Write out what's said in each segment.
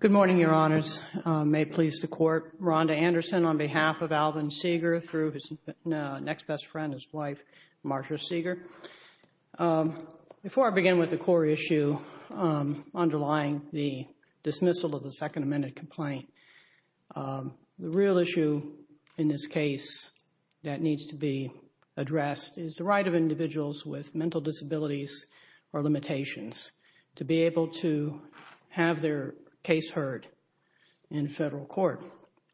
Good morning, Your Honors. May it please the Court, Rhonda Anderson on behalf of Alvin Seiger through his next best friend, his wife, Marsha Seiger. Before I begin with the core issue underlying the dismissal of the Second Amendment complaint, the real issue in this case that needs to be addressed is the right of individuals with mental disabilities or limitations to be able to have their case heard in federal court.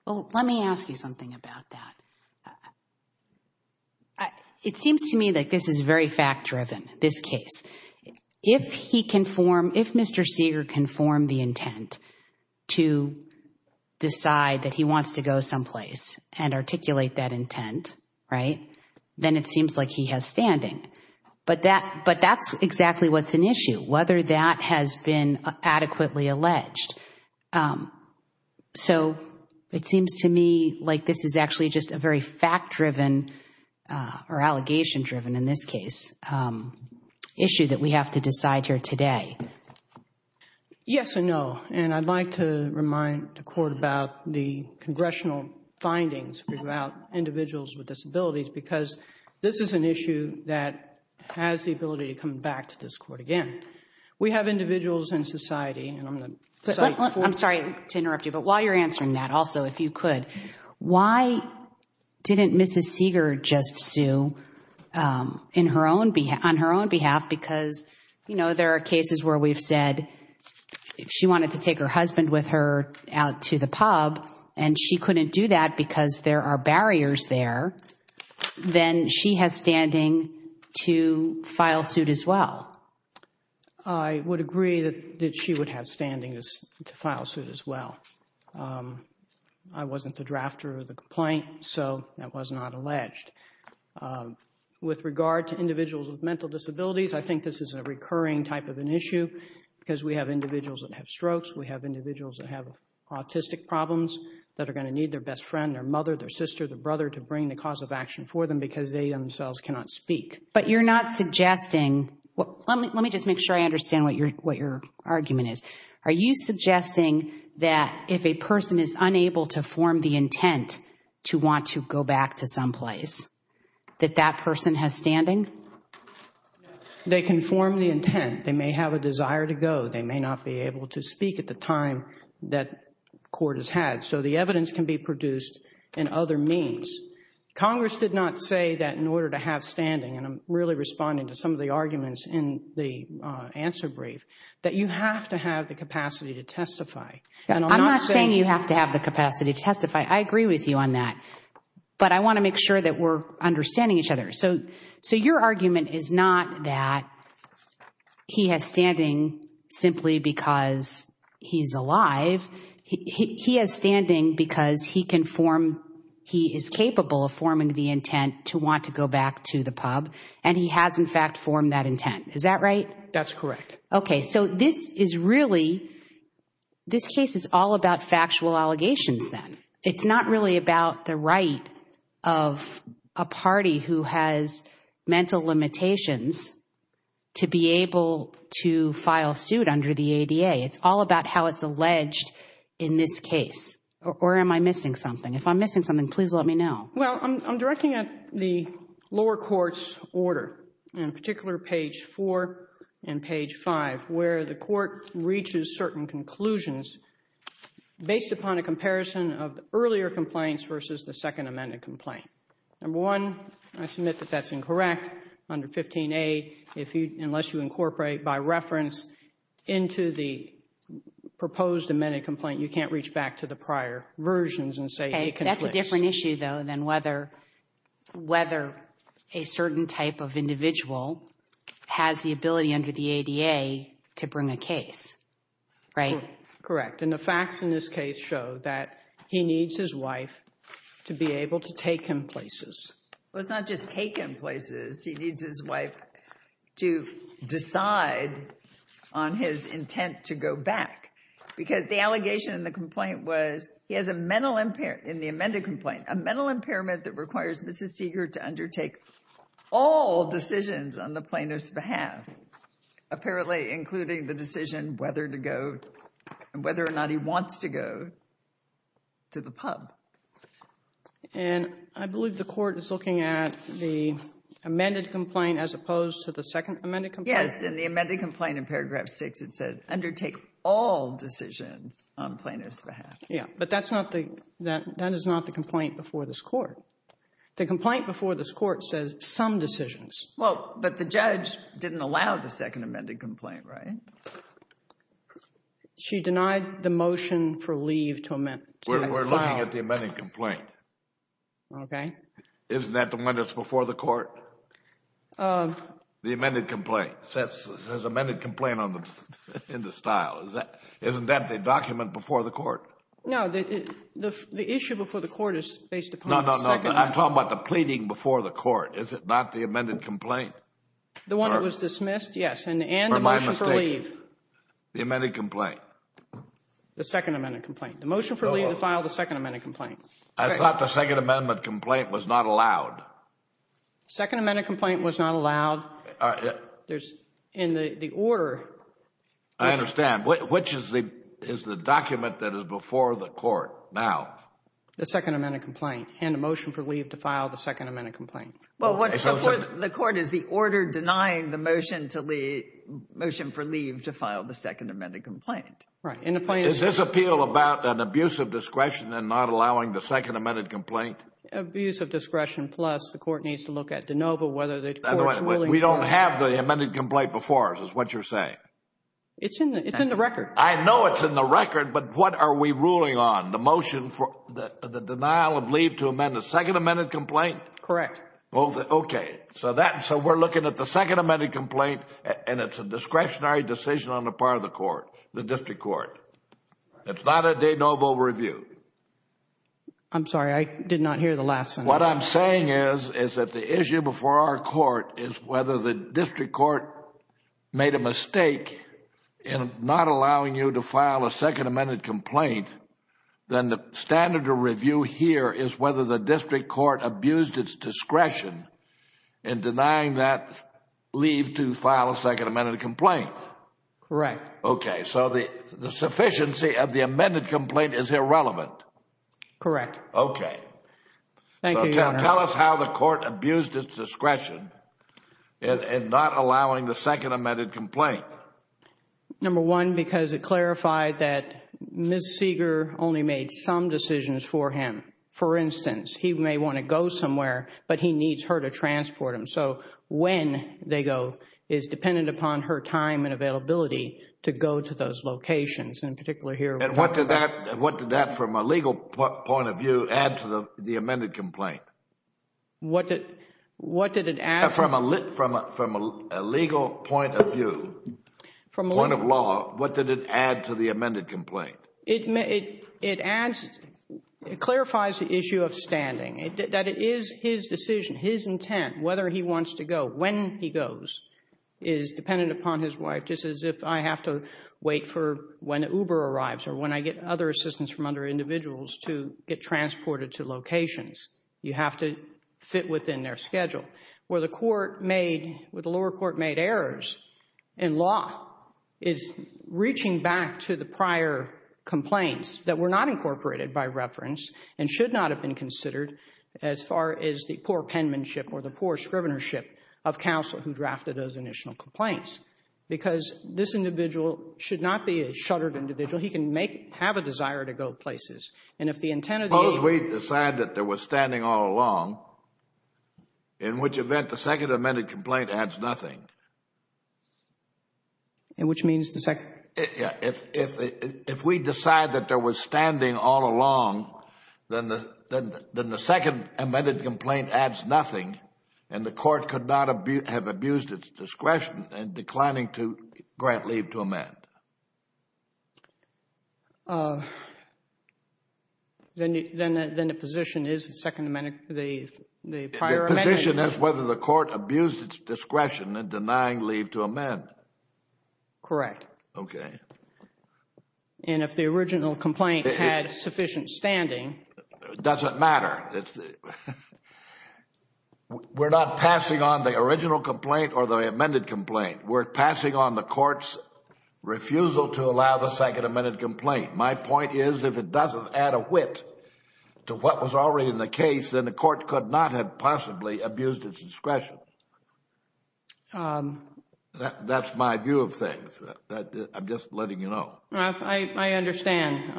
Let me ask you something about that. It seems to me that this is very fact-driven, this case. If he can form, if Mr. Seiger can form the intent to decide that he wants to go someplace and articulate that intent, then it seems like he has standing. But that's exactly what's an issue, whether that has been adequately alleged. So, it seems to me like this is actually just a very fact-driven or allegation-driven, in this case, issue that we have to decide here today. Yes and no. And I'd like to remind the Court about the congressional findings about individuals with disabilities because this is an issue that has the ability to come back to this Court again. We have individuals in society. I'm sorry to interrupt you, but while you're answering that, also, if you could, why didn't Mrs. Seiger just sue on her own behalf because there are cases where we've said if she wanted to take her husband with her out to the pub and she couldn't do that because there are I would agree that she would have standing to file suit as well. I wasn't the drafter of the complaint, so that was not alleged. With regard to individuals with mental disabilities, I think this is a recurring type of an issue because we have individuals that have strokes, we have individuals that have autistic problems that are going to need their best friend, their mother, their sister, their brother to bring the cause of action for them because they themselves cannot speak. But you're not suggesting, let me just make sure I understand what your argument is. Are you suggesting that if a person is unable to form the intent to want to go back to someplace, that that person has standing? They can form the intent. They may have a desire to go. They may not be able to speak at the time that court has had. So the evidence can be produced in other means. Congress did not say that in order to have standing, and I'm really responding to some of the arguments in the answer brief, that you have to have the capacity to testify. I'm not saying you have to have the capacity to testify. I agree with you on that. But I want to make sure that we're understanding each other. So your argument is not that he has standing simply because he's alive. He has standing because he can form, he is capable of forming the intent to want to go back to the pub, and he has in fact formed that intent. Is that right? That's correct. Okay. So this is really, this case is all about factual allegations then. It's not really about the right of a party who has mental limitations to be able to file suit under the ADA. It's all about how it's alleged in this case. Or am I missing something? If I'm missing something, please let me know. Well, I'm directing at the lower court's order, in particular page four and page five, where the court reaches certain conclusions based upon a comparison of the earlier complaints versus the second amended complaint. Number one, I submit that that's incorrect under 15A, unless you incorporate by reference into the proposed amended complaint, you can't reach back to the prior versions and say it conflicts. Okay. That's a different issue though than whether a certain type of individual has the ability under the ADA to bring a case, right? Correct. And the facts in this case show that he needs his wife to be able to take him places. Well, it's not just take him places. He needs his wife to decide on his intent to go back because the allegation in the complaint was he has a mental impairment in the amended complaint, a mental impairment that requires Mrs. Seeger to undertake all decisions on the plaintiff's behalf, apparently including the decision whether to go and whether or not he wants to go to the pub. And I believe the court is looking at the amended complaint as opposed to the second amended complaint. Yes. In the amended complaint in paragraph six, it said undertake all decisions on plaintiff's behalf. Yeah. But that's not the, that is not the complaint before this court. The complaint before this court says some decisions. Well, but the judge didn't allow the second amended complaint, right? She denied the motion for leave to file. We're looking at the amended complaint. Okay. Isn't that the one that's before the court? The amended complaint says amended complaint on the, in the style, isn't that the document before the court? No. The issue before the court is based upon the second amendment. No, no, no. I'm talking about the pleading before the court. Is it not the amended complaint? The one that was dismissed? Yes. And the motion for leave. Or my mistake. The amended complaint. The second amended complaint. Second amended complaint. The second amended complaint. The motion for leave to file the second amended complaint. I thought the second amended complaint was not allowed. Second amended complaint was not allowed. There's, in the order. I understand. Which is the, is the document that is before the court now. The second amended complaint, hand a motion for leave to file the second amended complaint. Well, what's before the court is the order denying the motion to leave, motion for leave to file the second amended complaint. Right. And the... Is this appeal about an abuse of discretion and not allowing the second amended complaint? Abuse of discretion plus the court needs to look at de novo whether the court is willing to... We don't have the amended complaint before us is what you're saying? It's in the record. I know it's in the record, but what are we ruling on? The motion for the denial of leave to amend the second amended complaint? Correct. Okay. So that, so we're looking at the second amended complaint and it's a discretionary decision on the part of the court, the district court. It's not a de novo review. I'm sorry. I did not hear the last sentence. What I'm saying is, is that the issue before our court is whether the district court made a mistake in not allowing you to file a second amended complaint, then the standard of review here is whether the district court abused its discretion in denying that leave to file a second amended complaint. Correct. Okay. So the sufficiency of the amended complaint is irrelevant. Correct. Okay. Thank you, Your Honor. So tell us how the court abused its discretion in not allowing the second amended complaint. Number one, because it clarified that Ms. Seeger only made some decisions for him. For instance, he may want to go somewhere, but he needs her to transport him. So, when they go is dependent upon her time and availability to go to those locations and particularly here. And what did that, what did that from a legal point of view add to the amended complaint? What did, what did it add? From a, from a legal point of view, point of law, what did it add to the amended complaint? It may, it adds, it clarifies the issue of standing. That it is his decision, his intent, whether he wants to go, when he goes is dependent upon his wife, just as if I have to wait for when Uber arrives or when I get other assistance from other individuals to get transported to locations. You have to fit within their schedule. Where the court made, where the lower court made errors in law is reaching back to the as far as the poor penmanship or the poor scrivenership of counsel who drafted those initial complaints. Because this individual should not be a shuttered individual. He can make, have a desire to go places. And if the intent of the agent As long as we decide that there was standing all along, in which event, the second amended complaint adds nothing. And which means the second If we decide that there was standing all along, then the second amended complaint adds nothing and the court could not have abused its discretion in declining to grant leave to amend. Then the position is the second amended, the prior amended The position is whether the court abused its discretion in denying leave to amend. Correct. Okay. And if the original complaint had sufficient standing It doesn't matter. We're not passing on the original complaint or the amended complaint. We're passing on the court's refusal to allow the second amended complaint. My point is, if it doesn't add a wit to what was already in the case, then the court could not have possibly abused its discretion. That's my view of things. I'm just letting you know. I understand.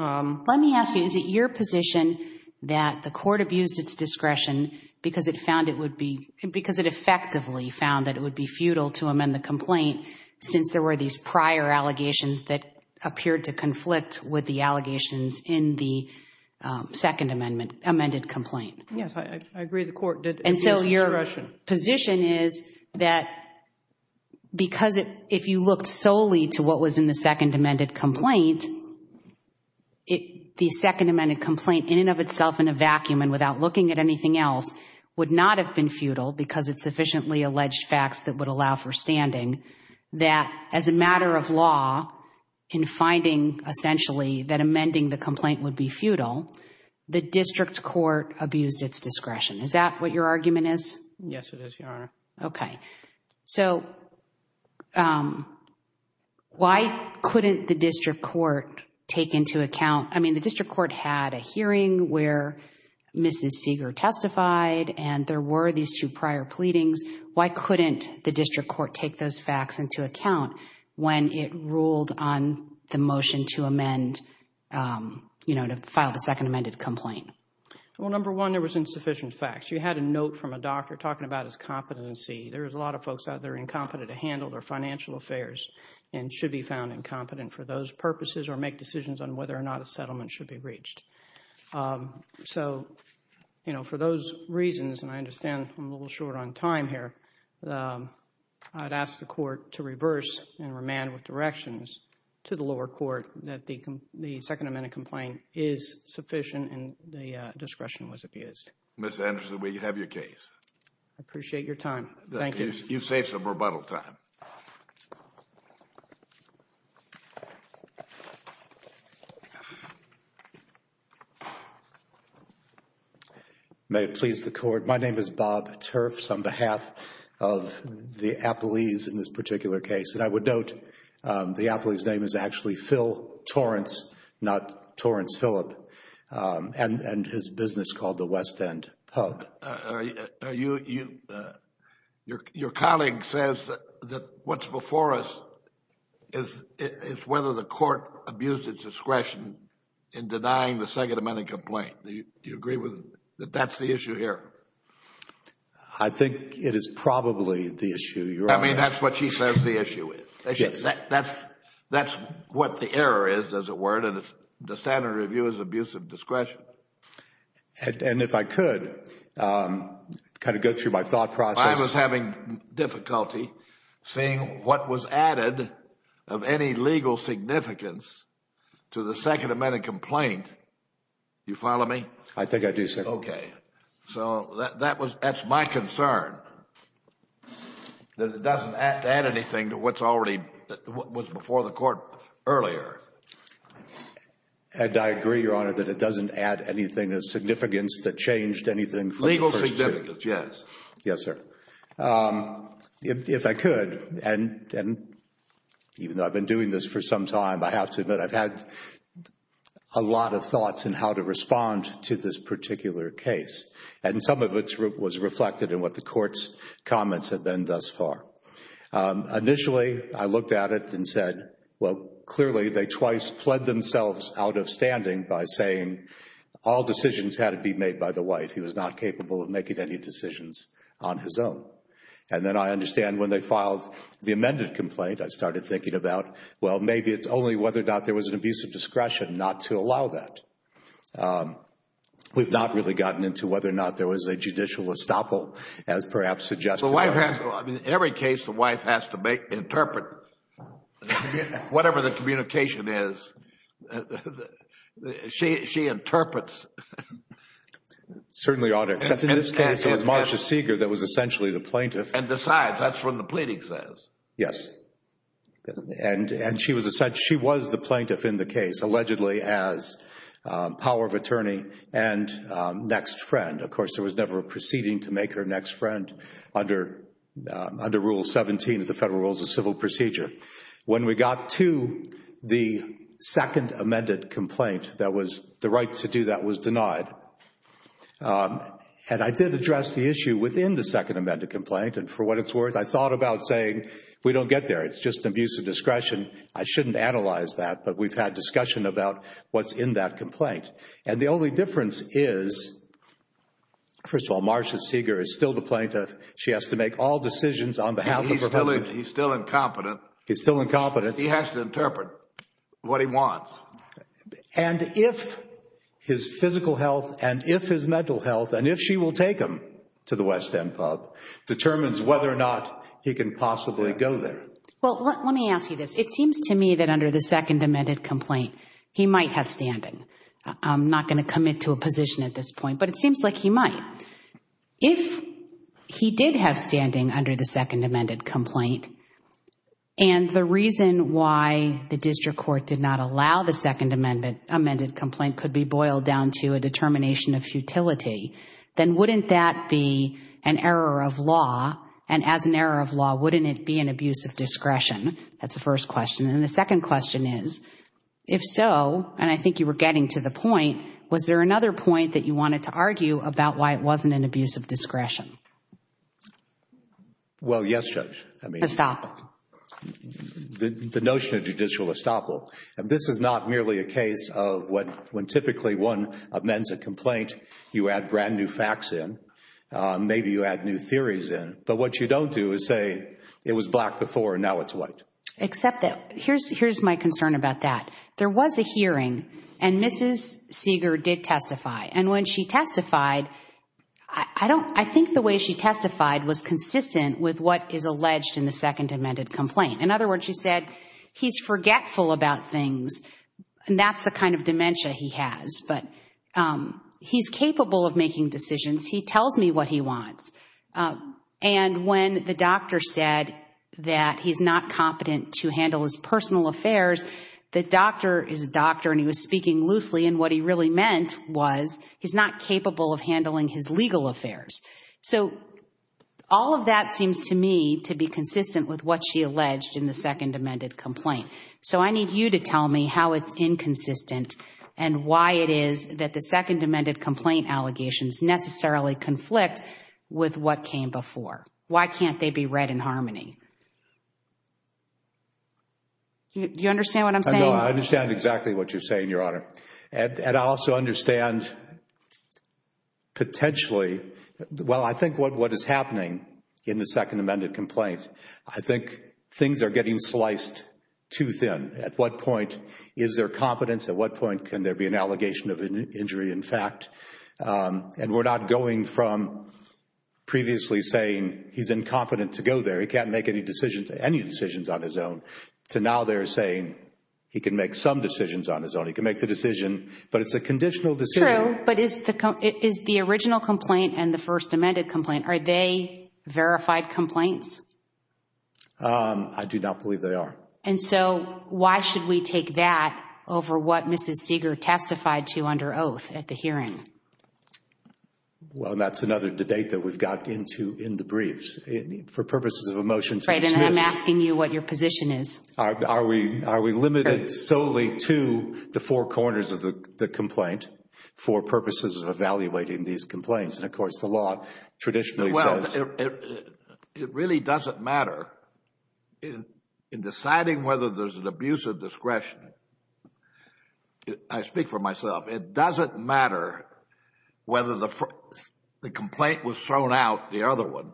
Let me ask you, is it your position that the court abused its discretion because it found it would be, because it effectively found that it would be futile to amend the complaint since there were these prior allegations that appeared to conflict with the allegations in the second amended complaint? Yes, I agree. The court did abuse its discretion. My position is that because if you looked solely to what was in the second amended complaint, the second amended complaint in and of itself in a vacuum and without looking at anything else would not have been futile because it's sufficiently alleged facts that would allow for standing that as a matter of law, in finding essentially that amending the complaint would be futile, the district court abused its discretion. Is that what your argument is? Yes, it is, Your Honor. Okay. So, why couldn't the district court take into account, I mean, the district court had a hearing where Mrs. Seeger testified and there were these two prior pleadings. Why couldn't the district court take those facts into account when it ruled on the motion to amend, you know, to file the second amended complaint? Well, number one, there was insufficient facts. You had a note from a doctor talking about his competency. There's a lot of folks out there incompetent to handle their financial affairs and should be found incompetent for those purposes or make decisions on whether or not a settlement should be breached. So, you know, for those reasons, and I understand I'm a little short on time here, I'd ask the court to reverse and remand with directions to the lower court that the second amended complaint is sufficient and the discretion was abused. Ms. Anderson, we have your case. I appreciate your time. Thank you. You've saved some rebuttal time. May it please the Court. My name is Bob Turfs on behalf of the Appellees in this particular case, and I would note The appellee's name is actually Phil Torrance, not Torrance-Philip, and his business is called the West End Pub. Your colleague says that what's before us is whether the court abused its discretion in denying the second amended complaint. Do you agree that that's the issue here? I think it is probably the issue. I mean, that's what she says the issue is. That's what the error is, as it were, and the standard review is abuse of discretion. And if I could kind of go through my thought process. I was having difficulty seeing what was added of any legal significance to the second amended complaint. Do you follow me? I think I do, sir. Okay. So, that's my concern, that it doesn't add anything to what's before the court earlier. And I agree, Your Honor, that it doesn't add anything of significance that changed anything from the first two. Legal significance, yes. Yes, sir. If I could, and even though I've been doing this for some time, I have to admit I've had a lot of thoughts in how to respond to this particular case. And some of it was reflected in what the court's comments have been thus far. Initially, I looked at it and said, well, clearly they twice pled themselves out of standing by saying all decisions had to be made by the wife. He was not capable of making any decisions on his own. And then I understand when they filed the amended complaint, I started thinking about, well, maybe it's only whether or not there was an abuse of discretion not to allow that. We've not really gotten into whether or not there was a judicial estoppel, as perhaps suggested. In every case, the wife has to interpret whatever the communication is. She interprets. Certainly, Your Honor, except in this case, it was Marcia Seeger that was essentially the plaintiff. And decides. That's what the pleading says. Yes. And she was the plaintiff in the case, allegedly, as power of attorney and next friend. Of course, there was never a proceeding to make her next friend under Rule 17 of the Federal Rules of Civil Procedure. When we got to the second amended complaint, the right to do that was denied. And I did address the issue within the second amended complaint, and for what it's worth, I thought about saying, we don't get there. It's just abuse of discretion. I shouldn't analyze that, but we've had discussion about what's in that complaint. And the only difference is, first of all, Marcia Seeger is still the plaintiff. She has to make all decisions on behalf of her husband. He's still incompetent. He's still incompetent. He has to interpret what he wants. And if his physical health, and if his mental health, and if she will take him to the West he can possibly go there. Well, let me ask you this. It seems to me that under the second amended complaint, he might have standing. I'm not going to commit to a position at this point, but it seems like he might. If he did have standing under the second amended complaint, and the reason why the district court did not allow the second amended complaint could be boiled down to a determination of of law, wouldn't it be an abuse of discretion? That's the first question. And the second question is, if so, and I think you were getting to the point, was there another point that you wanted to argue about why it wasn't an abuse of discretion? Well, yes, Judge. Estoppel. The notion of judicial estoppel. This is not merely a case of when typically one amends a complaint, you add brand new facts in. Maybe you add new theories in. But what you don't do is say, it was black before and now it's white. Except that, here's my concern about that. There was a hearing, and Mrs. Seeger did testify. And when she testified, I think the way she testified was consistent with what is alleged in the second amended complaint. In other words, she said, he's forgetful about things, and that's the kind of dementia he has. But he's capable of making decisions. He tells me what he wants. And when the doctor said that he's not competent to handle his personal affairs, the doctor is a doctor and he was speaking loosely, and what he really meant was he's not capable of handling his legal affairs. So all of that seems to me to be consistent with what she alleged in the second amended complaint. So I need you to tell me how it's inconsistent and why it is that the second amended complaint allegations necessarily conflict with what came before. Why can't they be read in harmony? You understand what I'm saying? No, I understand exactly what you're saying, Your Honor. And I also understand potentially, well, I think what is happening in the second amended complaint, I think things are getting sliced too thin. At what point is there competence? At what point can there be an allegation of injury in fact? And we're not going from previously saying he's incompetent to go there, he can't make any decisions, any decisions on his own, to now they're saying he can make some decisions on his own. He can make the decision, but it's a conditional decision. True, but is the original complaint and the first amended complaint, are they verified complaints? I do not believe they are. And so, why should we take that over what Mrs. Seeger testified to under oath at the hearing? Well, and that's another debate that we've got into in the briefs. For purposes of a motion to dismiss. Right, and I'm asking you what your position is. Are we limited solely to the four corners of the complaint for purposes of evaluating these complaints? And of course, the law traditionally says... And in deciding whether there's an abuse of discretion, I speak for myself, it doesn't matter whether the complaint was thrown out, the other one,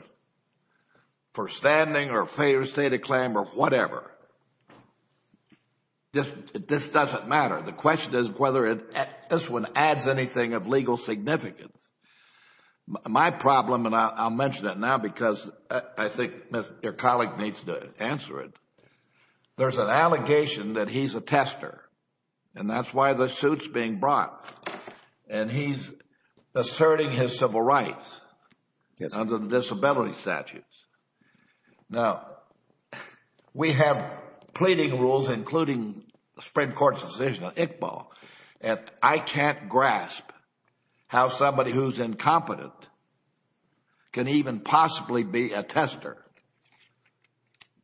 for standing or state of claim or whatever. This doesn't matter. The question is whether this one adds anything of legal significance. My problem, and I'll mention it now because I think your colleague needs to answer it. There's an allegation that he's a tester, and that's why the suit's being brought. And he's asserting his civil rights under the disability statutes. Now, we have pleading rules, including the Supreme Court's decision on Iqbal, and I can't believe somebody who's incompetent can even possibly be a tester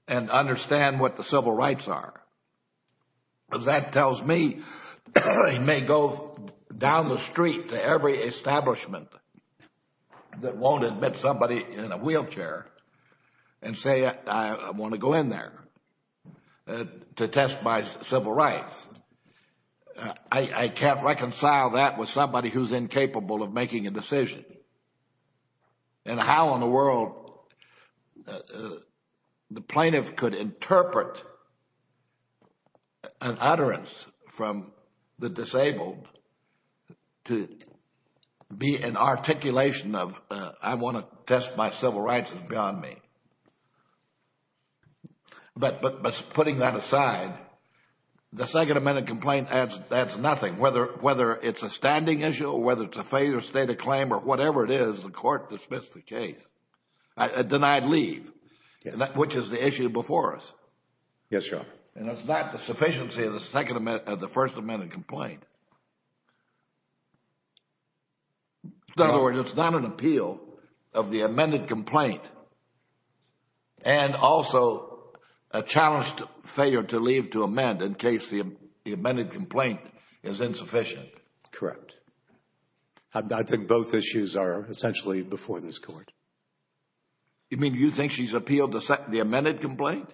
and understand what the civil rights are. That tells me he may go down the street to every establishment that won't admit somebody in a wheelchair and say, I want to go in there to test my civil rights. I can't reconcile that with somebody who's incapable of making a decision. And how in the world the plaintiff could interpret an utterance from the disabled to be an articulation of I want to test my civil rights, it's beyond me. But putting that aside, the Second Amendment complaint adds nothing, whether it's a standing issue or whether it's a failure to state a claim or whatever it is, the court dismisses the case, a denied leave, which is the issue before us. Yes, Your Honor. And that's not the sufficiency of the First Amendment complaint. In other words, it's not an appeal of the amended complaint and also a challenged failure to leave to amend in case the amended complaint is insufficient. Correct. I think both issues are essentially before this Court. You mean you think she's appealed the amended complaint?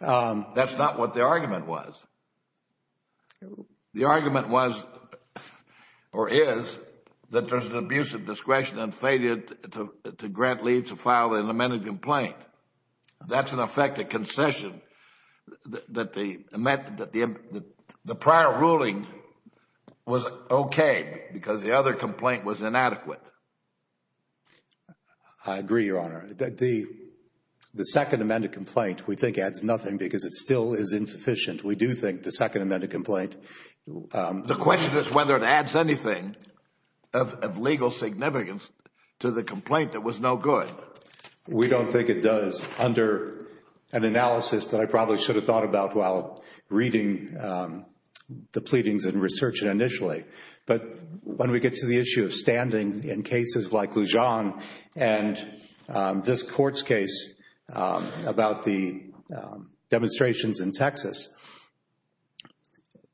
That's not what the argument was. The argument was or is that there's an abuse of discretion and failure to grant leave to file an amended complaint. That's in effect a concession that the prior ruling was okay because the other complaint was inadequate. I agree, Your Honor. The Second Amendment complaint, we think, adds nothing because it still is insufficient. We do think the Second Amendment complaint. The question is whether it adds anything of legal significance to the complaint that was no good. We don't think it does under an analysis that I probably should have thought about while reading the pleadings and researching initially. But when we get to the issue of standing in cases like Lujan and this Court's case about the demonstrations in Texas,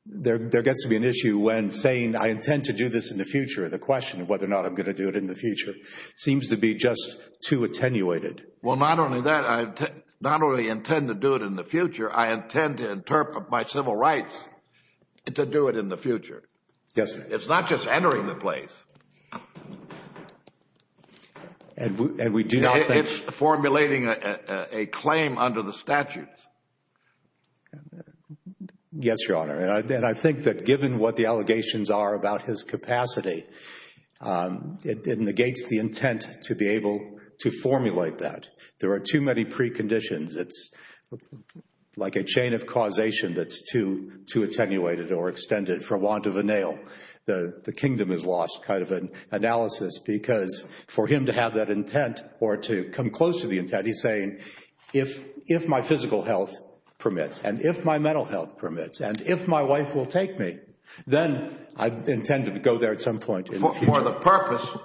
there gets to be an issue when saying I intend to do this in the future. The question of whether or not I'm going to do it in the future seems to be just too attenuated. Well, not only that, I not only intend to do it in the future, I intend to interpret my civil rights to do it in the future. Yes, sir. It's not just entering the place. And we do not think It's formulating a claim under the statutes. Yes, Your Honor. And I think that given what the allegations are about his capacity, it negates the intent to be able to formulate that. There are too many preconditions. It's like a chain of causation that's too attenuated or extended for want of a nail. The kingdom is lost kind of an analysis because for him to have that intent or to come close to the intent, he's saying if my physical health permits and if my mental health permits and if my wife will take me, then I intend to go there at some point in the future.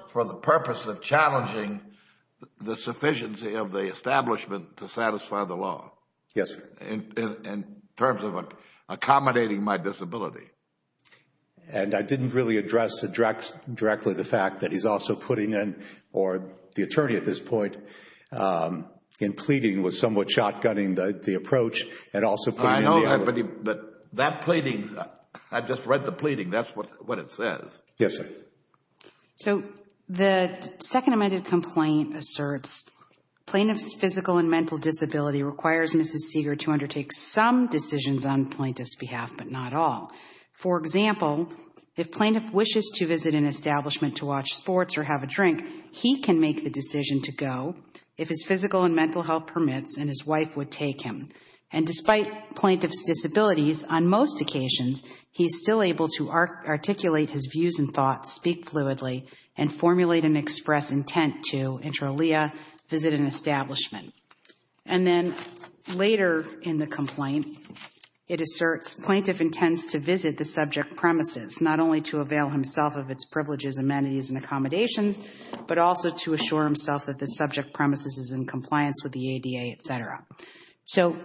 For the purpose of challenging the sufficiency of the establishment to satisfy the law. Yes. In terms of accommodating my disability. And I didn't really address directly the fact that he's also putting in, or the attorney at this point, in pleading was somewhat shotgunning the approach and also putting in the evidence. I know, but that pleading, I just read the pleading, that's what it says. Yes, sir. So the second amended complaint asserts plaintiff's physical and mental disability requires Mrs. Seeger to undertake some decisions on plaintiff's behalf, but not all. For example, if plaintiff wishes to visit an establishment to watch sports or have a drink, he can make the decision to go if his physical and mental health permits and his wife would take him. And despite plaintiff's disabilities, on most occasions, he's still able to articulate his views and thoughts, speak fluidly, and formulate and express intent to, intra alia, visit an establishment. And then later in the complaint, it asserts plaintiff intends to visit the subject premises, not only to avail himself of its privileges, amenities, and accommodations, but also to assure himself that the subject premises is in compliance with the ADA, et cetera. So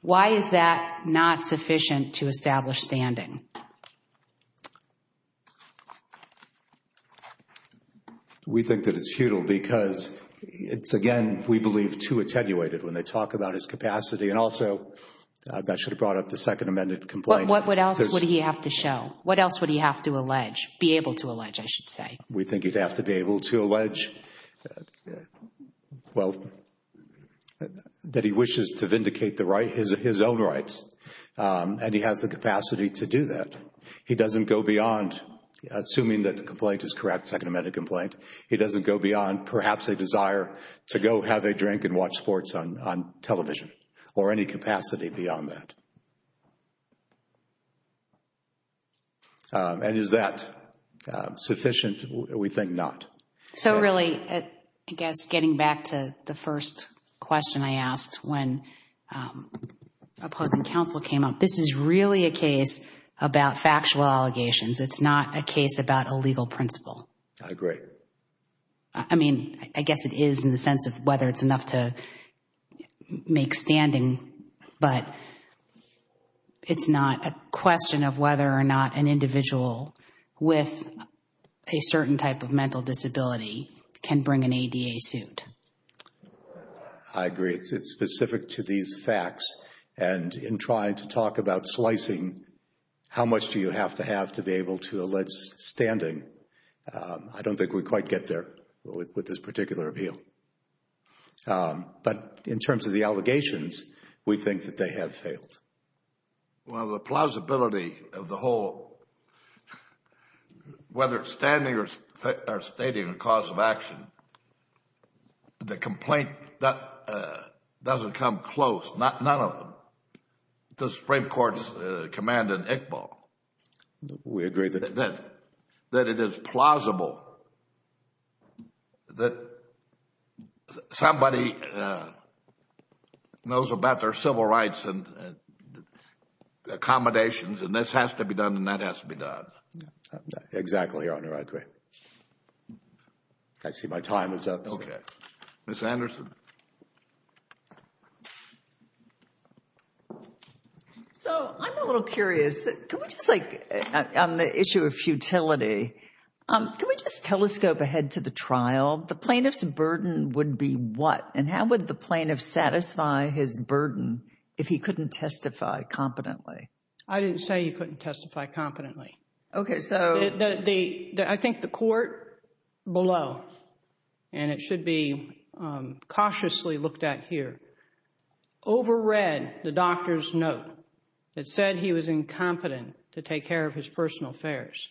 why is that not sufficient to establish standing? We think that it's futile because it's, again, we believe too attenuated when they talk about his capacity. And also, that should have brought up the second amended complaint. What else would he have to show? What else would he have to allege, be able to allege, I should say? We think he'd have to be able to allege, well, that he wishes to vindicate the right, his own rights, and he has the capacity to do that. He doesn't go beyond, assuming that the complaint is correct, second amended complaint, he doesn't go beyond, perhaps, a desire to go have a drink and watch sports on television, or any capacity beyond that. And is that sufficient? We think not. So really, I guess getting back to the first question I asked when opposing counsel came up, this is really a case about factual allegations. It's not a case about a legal principle. I agree. I mean, I guess it is in the sense of whether it's enough to make standing, but it's not a question of whether or not an individual with a certain type of mental disability can bring an ADA suit. I agree. It's specific to these facts. And in trying to talk about slicing, how much do you have to have to be able to allege standing, I don't think we quite get there with this particular appeal. But in terms of the allegations, we think that they have failed. Well, the plausibility of the whole, whether it's standing or stating a cause of action, the complaint doesn't come close, none of them, to the Supreme Court's command in Iqbal. We agree. We agree that it is plausible that somebody knows about their civil rights and accommodations and this has to be done and that has to be done. Exactly, Your Honor. I agree. I see my time is up. Okay. Ms. Anderson? So, I'm a little curious, can we just like, on the issue of futility, can we just telescope ahead to the trial? The plaintiff's burden would be what and how would the plaintiff satisfy his burden if he couldn't testify competently? I didn't say he couldn't testify competently. Okay, so. I think the court below, and it should be cautiously looked at here, overread the doctor's note that said he was incompetent to take care of his personal affairs.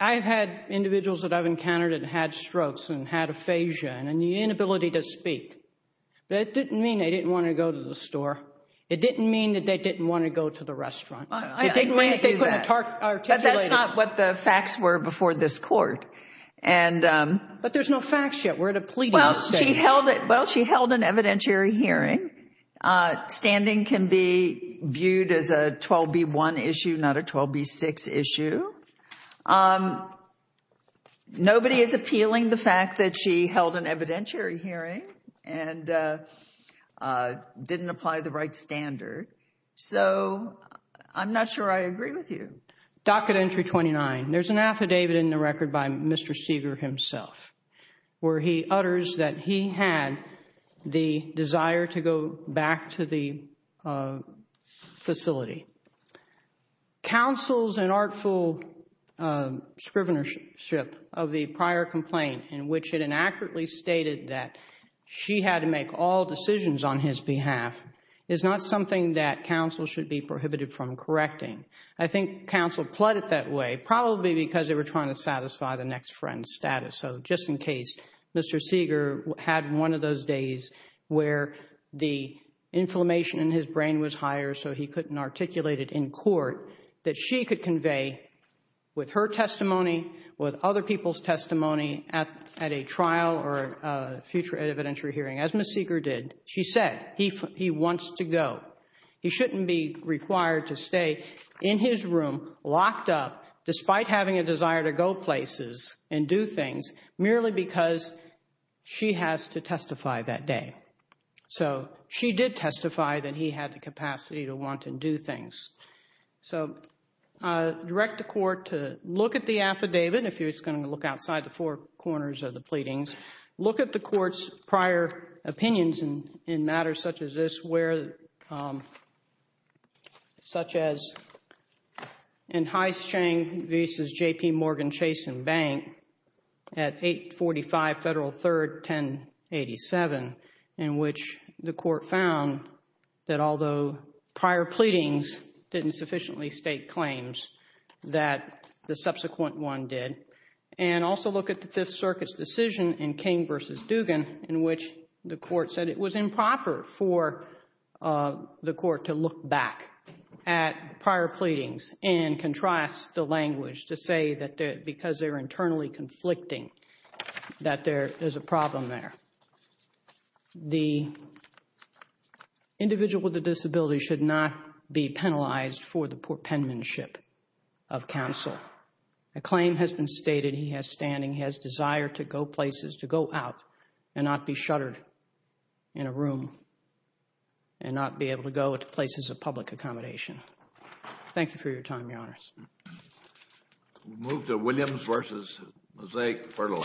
I've had individuals that I've encountered that had strokes and had aphasia and the inability to speak. That didn't mean they didn't want to go to the store. It didn't mean that they didn't want to go to the restaurant. It didn't mean that they couldn't articulate it. But that's not what the facts were before this court. But there's no facts yet. We're at a pleading stage. Well, she held an evidentiary hearing. Standing can be viewed as a 12B1 issue, not a 12B6 issue. Nobody is appealing the fact that she held an evidentiary hearing and didn't apply the right standard. So, I'm not sure I agree with you. Docket Entry 29. There's an affidavit in the record by Mr. Seeger himself where he utters that he had the desire to go back to the facility. Counsel's inartful scrivenership of the prior complaint in which it inaccurately stated that she had to make all decisions on his behalf is not something that counsel should be prohibited from correcting. I think counsel pled it that way probably because they were trying to satisfy the next friend's status. So, just in case, Mr. Seeger had one of those days where the inflammation in his brain was higher so he couldn't articulate it in court that she could convey with her testimony, with other people's testimony at a trial or a future evidentiary hearing. As Ms. Seeger did, she said he wants to go. He shouldn't be required to stay in his room locked up despite having a desire to go places and do things merely because she has to testify that day. So, she did testify that he had the capacity to want to do things. So, I direct the court to look at the affidavit, if it's going to look outside the four corners of the pleadings, look at the court's prior opinions in matters such as this where, such as in Heiss, Chang v. J.P. Morgan, Chase & Bank at 845 Federal 3rd, 1087 in which the court found that although prior pleadings didn't sufficiently state claims that the subsequent one did, and also look at the Fifth Circuit's decision in King v. Dugan in which the court said it was improper for the court to look back at prior pleadings and contrast the language to say that because they're internally conflicting that there is a problem there. The individual with a disability should not be penalized for the penmanship of counsel. A claim has been stated, he has standing, he has desire to go places, to go out and not be shuttered in a room and not be able to go to places of public accommodation. Thank you for your time, Your Honors. We'll move to Williams v. Mosaic Fertilizer.